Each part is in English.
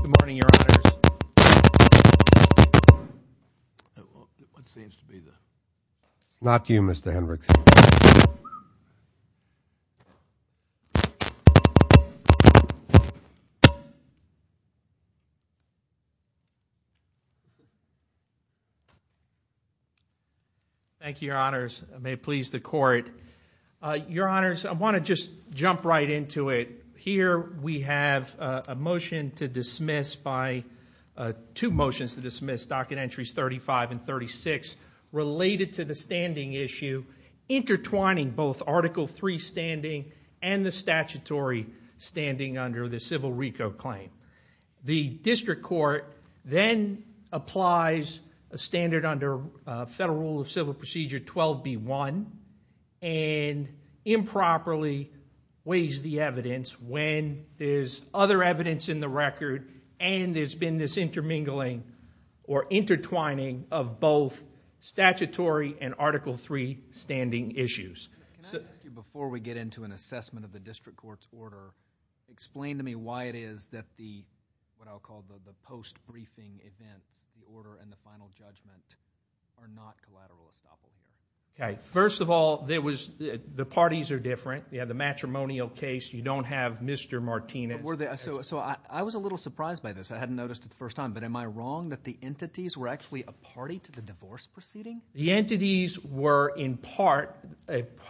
Good morning, Your Honors. Thank you, Your Honors. Your Honors, I want to just jump right into it. Here we have a motion to dismiss by, two motions to dismiss, Docket Entries 35 and 36, related to the standing issue, intertwining both Article III standing and the statutory standing under the civil RICO claim. The district court then applies a standard under Federal Rule of Civil Procedure 12B1 and improperly weighs the evidence when there's other evidence in the record and there's been this intermingling or intertwining of both statutory and Article III standing issues. Can I ask you, before we get into an assessment of the district court's order, explain to me what I'll call the post-briefing events, the order and the final judgment are not collateral establishments. Okay. First of all, the parties are different. You have the matrimonial case, you don't have Mr. Martinez. So I was a little surprised by this, I hadn't noticed it the first time, but am I wrong that the entities were actually a party to the divorce proceeding? The entities were, in part,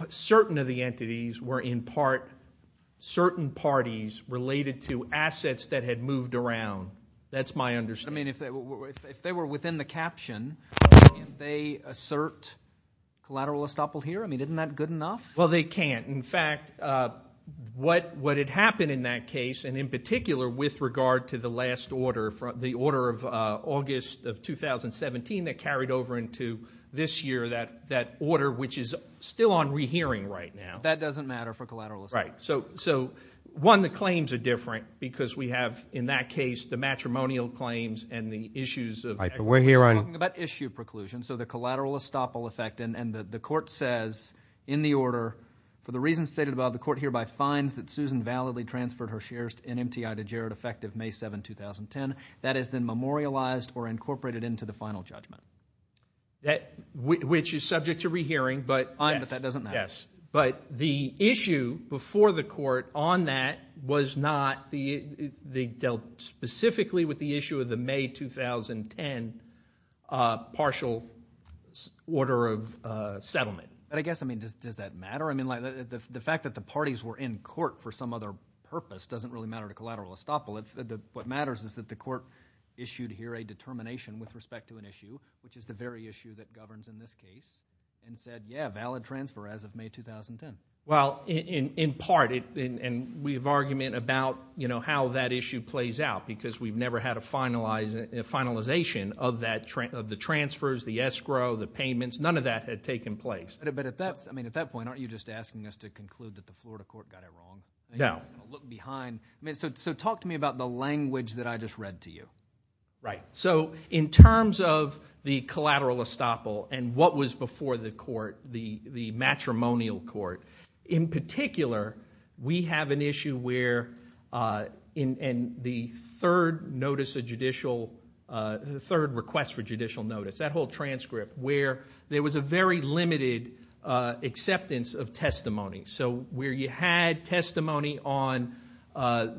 certain of the entities were, in part, certain parties related to assets that had moved around. That's my understanding. I mean, if they were within the caption, can they assert collateral estoppel here? I mean, isn't that good enough? Well, they can't. In fact, what had happened in that case, and in particular with regard to the last order, the order of August of 2017 that carried over into this year, that order which is still on rehearing right now. That doesn't matter for collateral estoppel. Right. So, one, the claims are different because we have, in that case, the matrimonial claims and the issues of equity. Right, but we're here on... We're talking about issue preclusion, so the collateral estoppel effect, and the court says in the order, for the reasons stated above, the court hereby finds that Susan validly transferred her shares to NMTI to Jared effective May 7, 2010. That has been memorialized or incorporated into the final judgment. Which is subject to rehearing, but... Fine, but that doesn't matter. Yes. But the issue before the court on that was not... They dealt specifically with the issue of the May 2010 partial order of settlement. I guess, I mean, does that matter? The fact that the parties were in court for some other purpose doesn't really matter to collateral estoppel. What matters is that the court issued here a determination with respect to an issue, which is the very issue that governs in this case, and said, yeah, valid transfer as of May 2010. Well, in part, and we have argument about how that issue plays out, because we've never had a finalization of the transfers, the escrow, the payments. None of that had taken place. But at that point, aren't you just asking us to conclude that the Florida court got it wrong? No. Look behind. So talk to me about the language that I just read to you. Right. So in terms of the collateral estoppel and what was before the court, the matrimonial court, in particular, we have an issue where in the third notice of judicial... The third request for judicial notice, that whole transcript, where there was a very limited acceptance of testimony. So where you had testimony on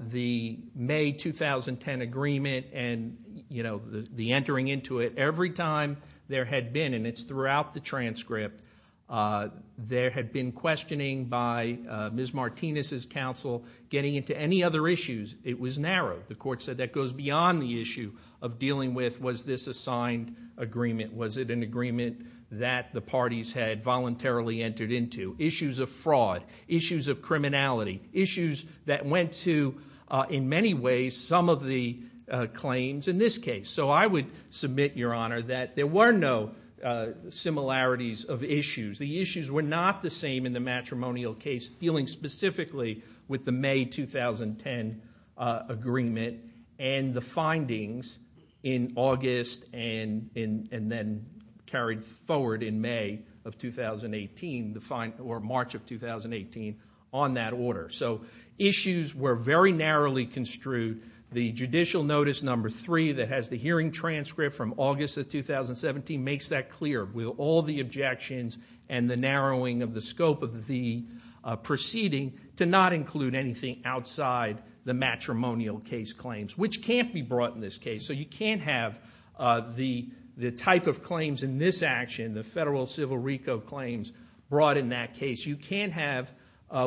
the May 2010 agreement and the entering into it, every time there had been, and it's throughout the transcript, there had been questioning by Ms. Martinez's counsel getting into any other issues. It was narrow. The court said that goes beyond the issue of dealing with, was this a signed agreement? Was it an agreement that the parties had voluntarily entered into? Issues of fraud. Issues of criminality. Issues that went to, in many ways, some of the claims in this case. So I would submit, Your Honor, that there were no similarities of issues. The issues were not the same in the matrimonial case dealing specifically with the May 2010 agreement and the findings in August and then carried forward in May of 2018, or March of 2018, on that order. So issues were very narrowly construed. The judicial notice number three that has the hearing transcript from August of 2017 makes that clear with all the objections and the narrowing of the scope of the proceeding to not include anything outside the matrimonial case claims, which can't be brought in this case. So you can't have the type of claims in this action, the Federal Civil RICO claims, brought in that case. You can't have,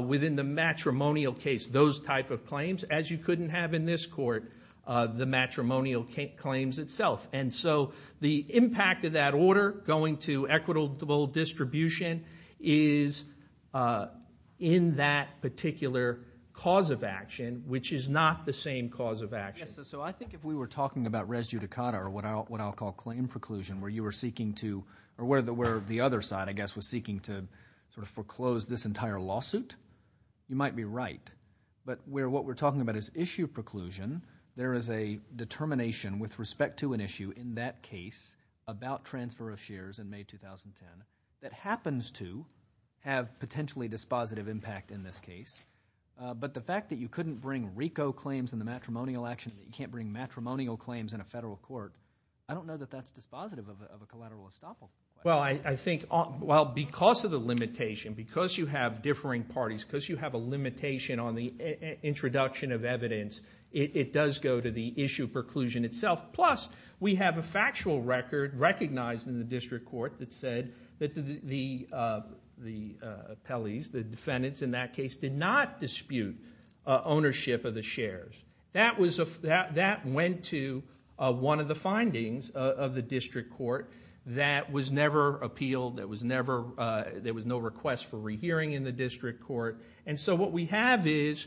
within the matrimonial case, those type of claims, as you couldn't have in this court, the matrimonial claims itself. And so the impact of that order going to equitable distribution is in that particular cause of action, which is not the same cause of action. Yes. So I think if we were talking about res judicata, or what I'll call claim preclusion, where you were seeking to, or where the other side, I guess, was seeking to sort of foreclose this entire lawsuit, you might be right. But where what we're talking about is issue preclusion, there is a determination with respect to an issue in that case, about transfer of shares in May 2010, that happens to have potentially dispositive impact in this case. But the fact that you couldn't bring RICO claims in the matrimonial action, you can't bring matrimonial claims in a federal court, I don't know that that's dispositive of a collateral estoppel. Well, I think, well, because of the limitation, because you have differing parties, because you have a limitation on the introduction of evidence, it does go to the issue preclusion itself. Plus, we have a factual record recognized in the district court that said that the appellees, the defendants in that case, did not dispute ownership of the shares. That went to one of the findings of the district court that was never appealed, there was no request for rehearing in the district court. What we have is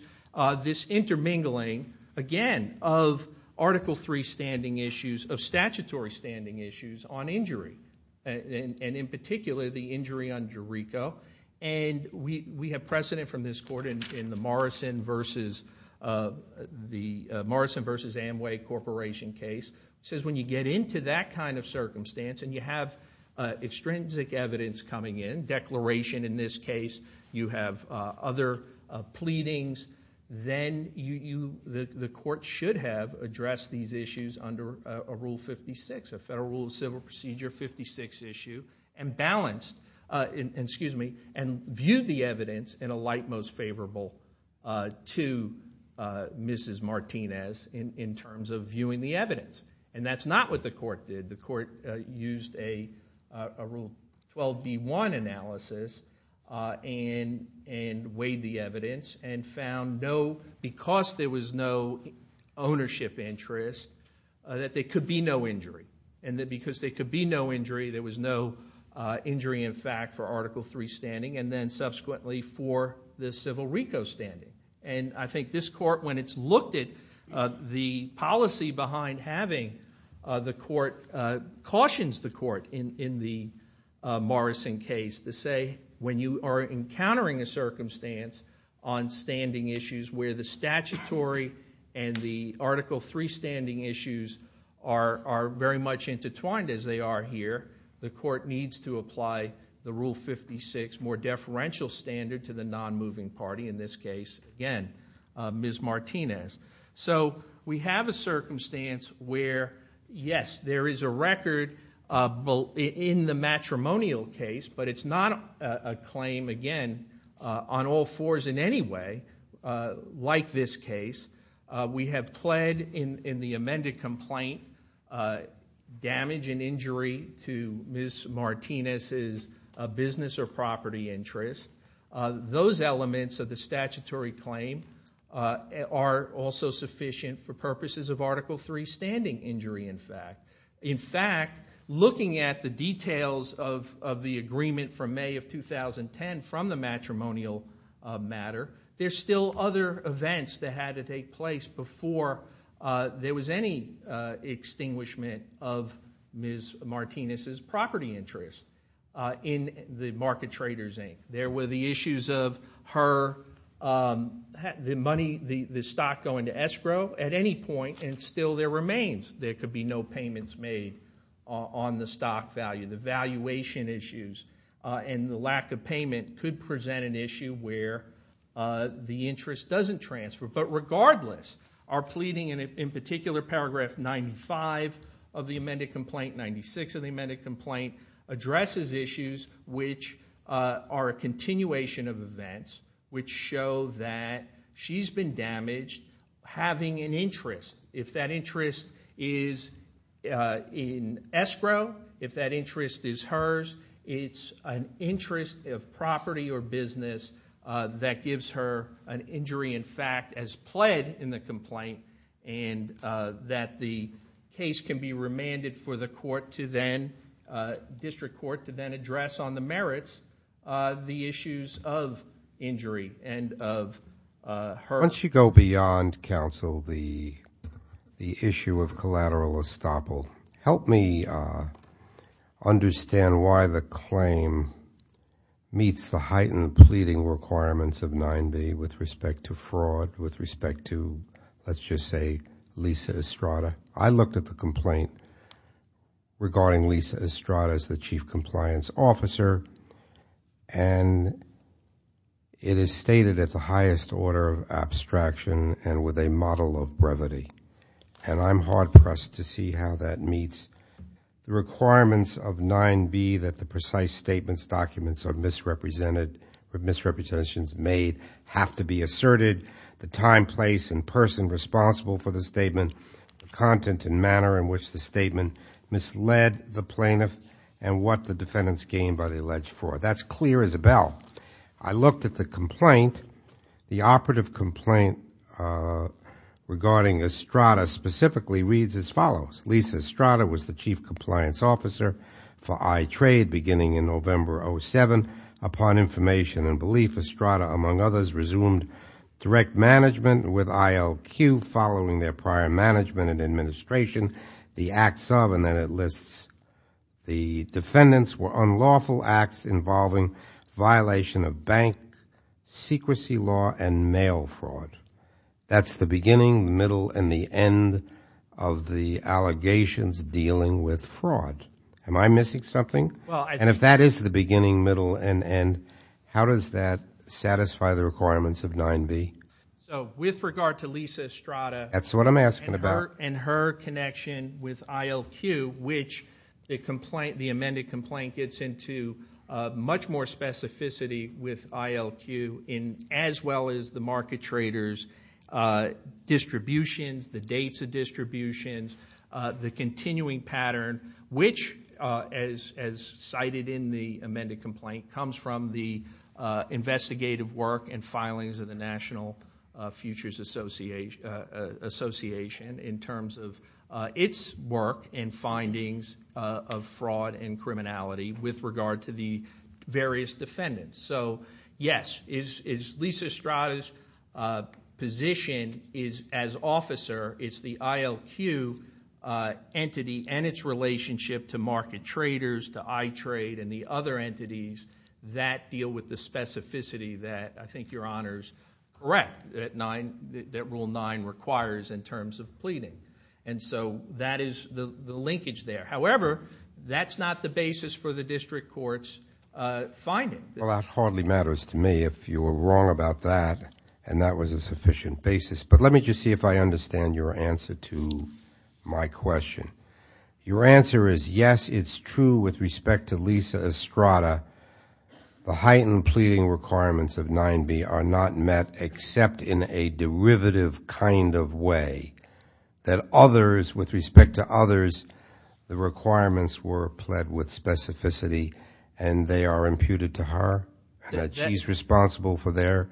this intermingling, again, of Article III standing issues, of statutory standing issues on injury, and in particular, the injury under RICO. We have precedent from this court in the Morrison v. Amway Corporation case, says when you get into that kind of circumstance and you have extrinsic evidence coming in, declaration in this case, you have other pleadings, then the court should have addressed these issues under a Rule 56, a Federal Rule of Civil Procedure 56 issue, and balanced, excuse me, and viewed the evidence in a light most favorable to Mrs. Martinez in terms of viewing the evidence. That's not what the court did. The court used a Rule 12b-1 analysis and weighed the evidence and found because there was no ownership interest, that there could be no injury. Because there could be no injury, there was no injury in fact for Article III standing, and then subsequently for the civil RICO standing. I think this court, when it's looked at the policy behind having the court, cautions the court in the Morrison case to say when you are encountering a circumstance on standing issues where the statutory and the Article III standing issues are very much intertwined as they are here, the court needs to apply the Rule 56 more deferential standard to the case of, again, Mrs. Martinez. We have a circumstance where, yes, there is a record in the matrimonial case, but it's not a claim, again, on all fours in any way like this case. We have pled in the amended complaint damage and injury to Mrs. Martinez's business or property interest. Those elements of the statutory claim are also sufficient for purposes of Article III standing injury in fact. In fact, looking at the details of the agreement from May of 2010 from the matrimonial matter, there's still other events that had to take place before there was any extinguishment of Mrs. Martinez's property interest in the Market Traders Inc. There were the issues of her, the money, the stock going to escrow at any point and still there remains. There could be no payments made on the stock value. The valuation issues and the lack of payment could present an issue where the interest doesn't transfer, but regardless, our pleading in particular paragraph 95 of the amended complaint addresses issues which are a continuation of events which show that she's been damaged having an interest. If that interest is in escrow, if that interest is hers, it's an interest of property or business that gives her an injury in fact as pled in the complaint and that the case can be remanded for the court to then, district court to then address on the merits the issues of injury and of her. Once you go beyond counsel, the issue of collateral estoppel, help me understand why the claim meets the heightened pleading requirements of 9B with respect to fraud, with respect to let's just say Lisa Estrada. I looked at the complaint regarding Lisa Estrada as the chief compliance officer and it is stated at the highest order of abstraction and with a model of brevity and I'm hard pressed to see how that meets the requirements of 9B that the precise statements documents are misrepresented or misrepresentations made have to be asserted, the time, place and person responsible for the statement, the content and manner in which the statement misled the plaintiff and what the defendants gained by the alleged fraud. That's clear as a bell. I looked at the complaint, the operative complaint regarding Estrada specifically reads as follows. Lisa Estrada was the chief compliance officer for I-Trade beginning in November 07, upon information and belief Estrada among others resumed direct management with ILQ following their prior management and administration, the acts of and then it lists the defendants were unlawful acts involving violation of bank secrecy law and mail fraud. That's the beginning, middle and the end of the allegations dealing with fraud. Am I missing something? If that is the beginning, middle and end, how does that satisfy the requirements of 9B? With regard to Lisa Estrada and her connection with ILQ which the amended complaint gets into much more specificity with ILQ as well as the market traders distributions, the dates of distributions, the continuing pattern which as cited in the amended complaint comes from the investigative work and filings of the National Futures Association in terms of its work and findings of fraud and criminality with regard to the various defendants. Yes, Lisa Estrada's position as officer is the ILQ entity and its relationship to market traders, to I-Trade and the other entities that deal with the specificity that I think your Honor is correct that Rule 9 requires in terms of pleading. That is the linkage there. However, that's not the basis for the district court's finding. Well, that hardly matters to me if you were wrong about that and that was a sufficient basis. But let me just see if I understand your answer to my question. Your answer is yes, it's true with respect to Lisa Estrada, the heightened pleading requirements of 9B are not met except in a derivative kind of way that others with respect to others, the requirements were pled with specificity and they are imputed to her and that she's responsible for their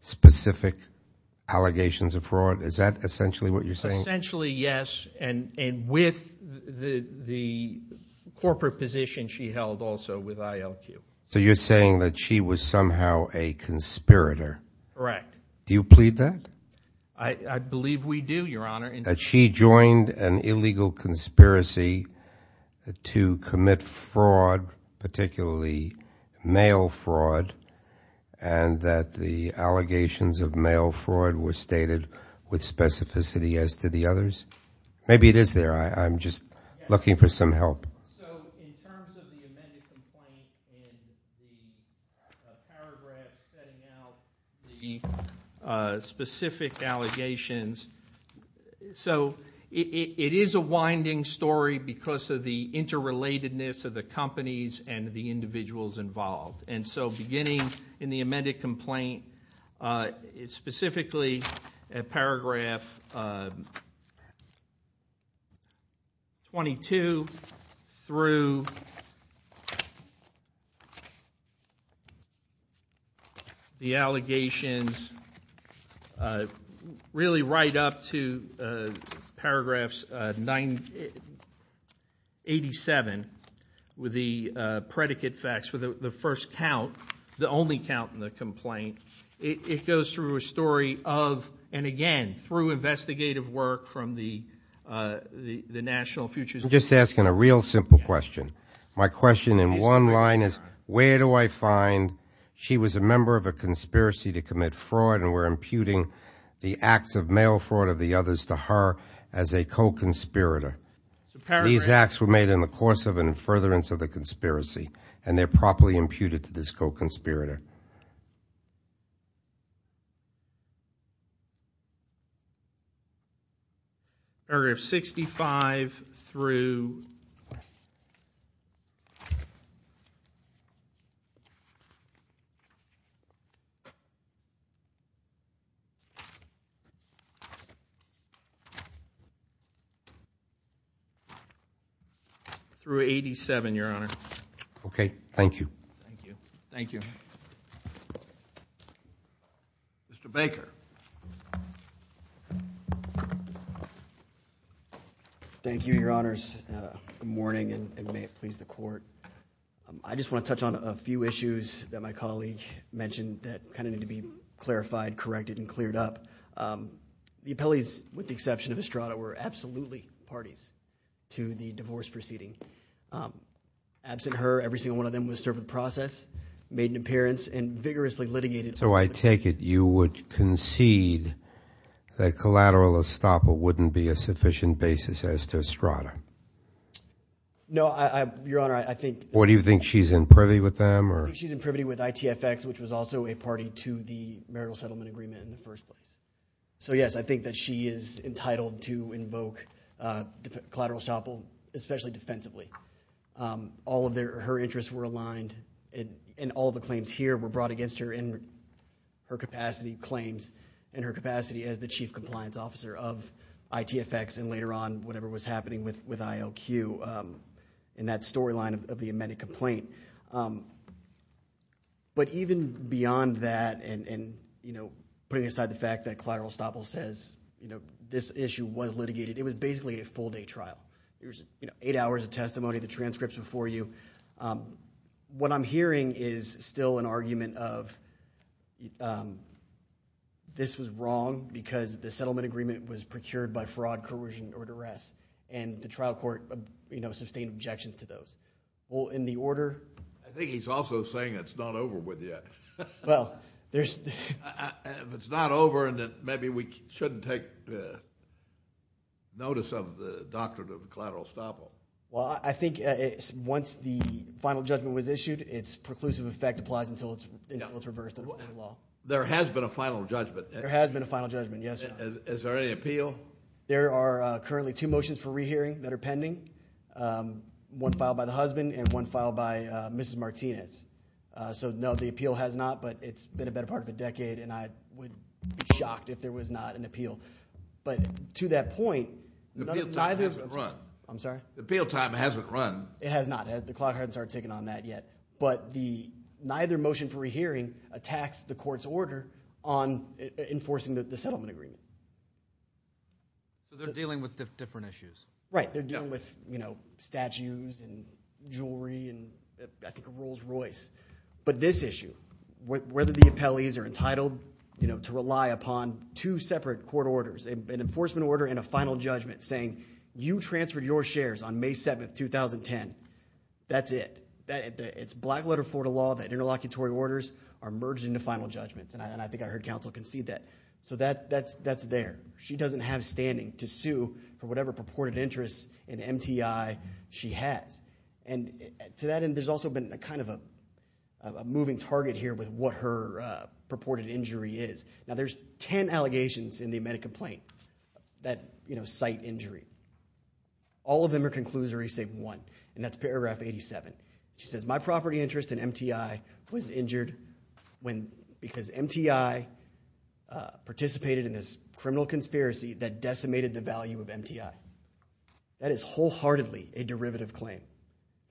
specific allegations of fraud. Is that essentially what you're saying? Essentially yes and with the corporate position she held also with ILQ. So you're saying that she was somehow a conspirator? Correct. Do you plead that? I believe we do, your Honor. That she joined an illegal conspiracy to commit fraud, particularly mail fraud and that the allegations of mail fraud were stated with specificity as to the others? Maybe it is there. I'm just looking for some help. So in terms of the amended complaint in the paragraph setting out the specific allegations, so it is a winding story because of the interrelatedness of the companies and the individuals involved. And so beginning in the amended complaint, it's specifically at paragraph 22 through the allegations really right up to paragraphs 87 with the predicate facts for the first count, the only count in the complaint. It goes through a story of, and again, through investigative work from the National Futures Board. Just asking a real simple question. My question in one line is, where do I find, she was a member of a conspiracy to commit fraud and we're imputing the acts of mail fraud of the others to her as a co-conspirator. These acts were made in the course of and in furtherance of the conspiracy and they're properly imputed to this co-conspirator. Thank you. Paragraph 65 through, through 87 your honor. Okay. Thank you. Thank you. Thank you. Thank you. Thank you. Thank you. Thank you. Mr. Baker. Thank you, your honors. Good morning and may it please the court. I just want to touch on a few issues that my colleague mentioned that kind of need to be clarified, corrected and cleared up. The appellees, with the exception of Estrada, were absolutely parties to the divorce proceeding. Absent her, every single one of them was served with process, made an appearance and vigorously litigated. So I take it you would concede that collateral estoppel wouldn't be a sufficient basis as to Estrada. No, I, I, your honor, I think. What do you think? She's in privy with them or? I think she's in privity with ITFX, which was also a party to the marital settlement agreement in the first place. So yes, I think that she is entitled to invoke collateral estoppel, especially defensively. All of their, her interests were aligned and, and all of the claims here were brought against her in her capacity, claims in her capacity as the chief compliance officer of ITFX and later on whatever was happening with, with ILQ in that storyline of the amended complaint. But even beyond that and, and, you know, putting aside the fact that collateral estoppel says, you know, this issue was litigated, it was basically a full day trial. It was, you know, eight hours of testimony, the transcripts before you. What I'm hearing is still an argument of this was wrong because the settlement agreement was procured by fraud, coercion or duress and the trial court, you know, sustained objections to those. Well, in the order. I think he's also saying it's not over with yet. Well, there's. If it's not over and that maybe we shouldn't take notice of the doctrine of collateral estoppel. Well, I think once the final judgment was issued, it's preclusive effect applies until it's, until it's reversed under the law. There has been a final judgment. There has been a final judgment, yes. Is there any appeal? There are currently two motions for rehearing that are pending. One filed by the husband and one filed by Mrs. Martinez. So no, the appeal has not, but it's been a better part of a decade and I would be shocked if there was not an appeal, but to that point, I'm sorry, the appeal time hasn't run. It has not. The clock hasn't started ticking on that yet, but the neither motion for rehearing attacks the court's order on enforcing the settlement agreement. So they're dealing with different issues. Right. They're dealing with, you know, statues and jewelry and I think a Rolls Royce, but this issue, whether the appellees are entitled, you know, to rely upon two separate court orders, an enforcement order and a final judgment saying you transferred your shares on May 7th, 2010. That's it. It's black letter for the law that interlocutory orders are merged into final judgments and I think I heard counsel concede that. So that's there. She doesn't have standing to sue for whatever purported interest in MTI she has. And to that end, there's also been a kind of a moving target here with what her purported injury is. Now, there's 10 allegations in the amended complaint that, you know, cite injury. All of them are conclusory, save one, and that's paragraph 87. She says my property interest in MTI was injured when, because MTI participated in this criminal conspiracy that decimated the value of MTI. That is wholeheartedly a derivative claim.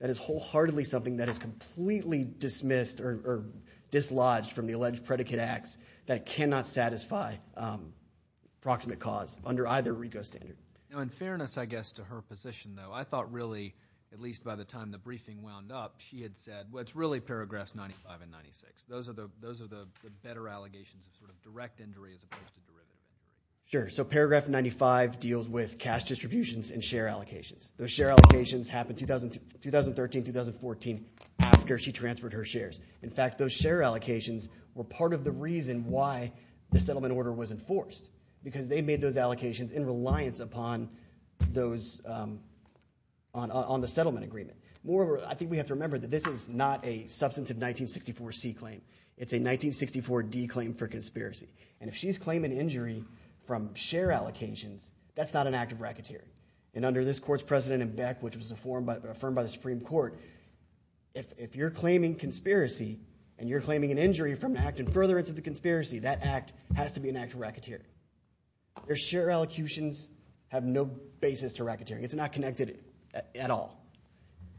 That is wholeheartedly something that is completely dismissed or dislodged from the alleged predicate acts that cannot satisfy proximate cause under either RICO standard. Now, in fairness, I guess, to her position, though, I thought really, at least by the time the briefing wound up, she had said, well, it's really paragraphs 95 and 96. Those are the better allegations of sort of direct injury as opposed to derivative. Sure. So paragraph 95 deals with cash distributions and share allocations. Those share allocations happened 2013, 2014, after she transferred her shares. In fact, those share allocations were part of the reason why the settlement order was passed upon those, on the settlement agreement. Moreover, I think we have to remember that this is not a substantive 1964C claim. It's a 1964D claim for conspiracy, and if she's claiming injury from share allocations, that's not an act of racketeering. And under this court's precedent in Beck, which was affirmed by the Supreme Court, if you're claiming conspiracy and you're claiming an injury from acting further into the conspiracy, that act has to be an act of racketeering. Their share allocations have no basis to racketeering. It's not connected at all.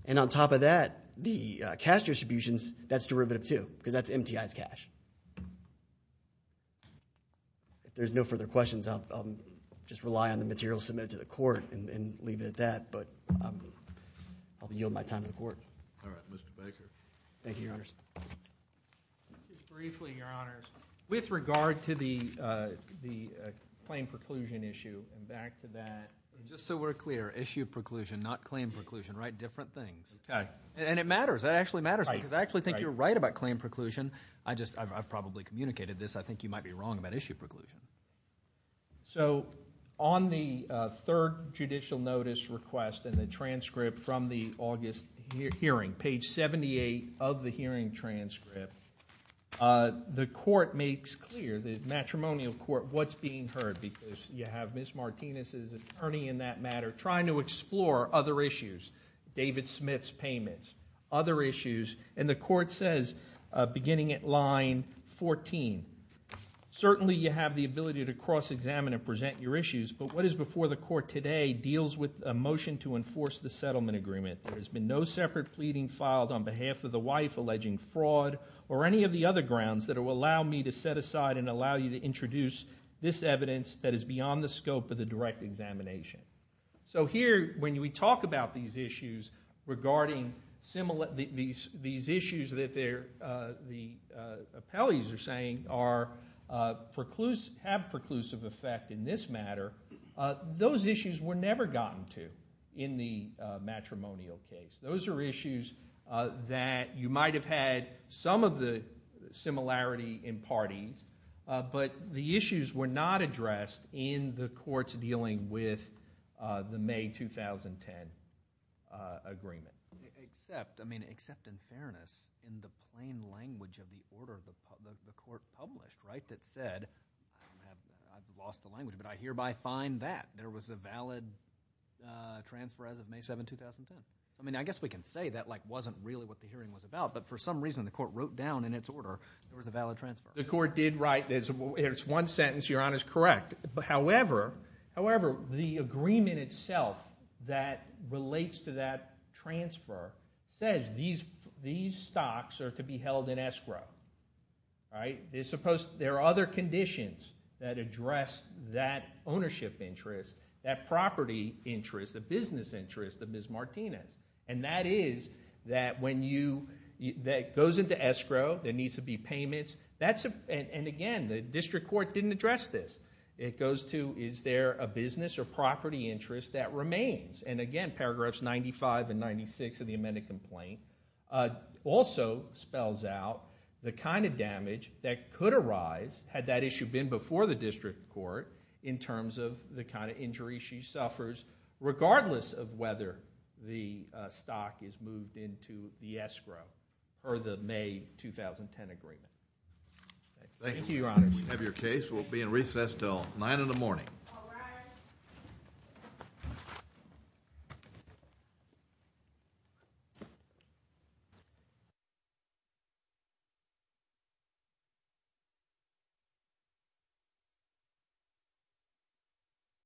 And on top of that, the cash distributions, that's derivative too, because that's MTI's cash. If there's no further questions, I'll just rely on the material submitted to the court and leave it at that, but I'll yield my time to the court. All right. Mr. Baker. Thank you, Your Honors. Just briefly, Your Honors, with regard to the claim preclusion issue, and back to that, just so we're clear, issue preclusion, not claim preclusion, right? Different things. Okay. And it matters. It actually matters because I actually think you're right about claim preclusion. I just, I've probably communicated this. I think you might be wrong about issue preclusion. So on the third judicial notice request and the transcript from the August hearing, page 78 of the hearing transcript, the court makes clear, the matrimonial court, what's being heard, because you have Ms. Martinez's attorney in that matter trying to explore other issues, David Smith's payments, other issues. And the court says, beginning at line 14, certainly you have the ability to cross-examine and present your issues, but what is before the court today deals with a motion to enforce the settlement agreement. There has been no separate pleading filed on behalf of the wife alleging fraud or any of the other grounds that will allow me to set aside and allow you to introduce this evidence that is beyond the scope of the direct examination. So here, when we talk about these issues regarding these issues that the appellees are saying are preclusive, have preclusive effect in this matter, those issues were never gotten to in the matrimonial case. Those are issues that you might have had some of the similarity in parties, but the issues were not addressed in the courts dealing with the May 2010 agreement. Except, I mean, except in fairness, in the plain language of the order that the court wrote down, there was a valid transfer as of May 7, 2010. I mean, I guess we can say that wasn't really what the hearing was about, but for some reason the court wrote down in its order, there was a valid transfer. The court did write, it's one sentence, Your Honor, is correct, however, however, the agreement itself that relates to that transfer says these stocks are to be held in escrow, right? They're supposed, there are other conditions that address that ownership interest, that property interest, the business interest of Ms. Martinez, and that is that when you, that goes into escrow, there needs to be payments, that's, and again, the district court didn't address this. It goes to, is there a business or property interest that remains? And again, paragraphs 95 and 96 of the amended complaint also spells out the kind of damage that could arise, had that issue been before the district court, in terms of the kind of injury she suffers, regardless of whether the stock is moved into the escrow or the May 2010 agreement. Thank you, Your Honor. Thank you. We have your case.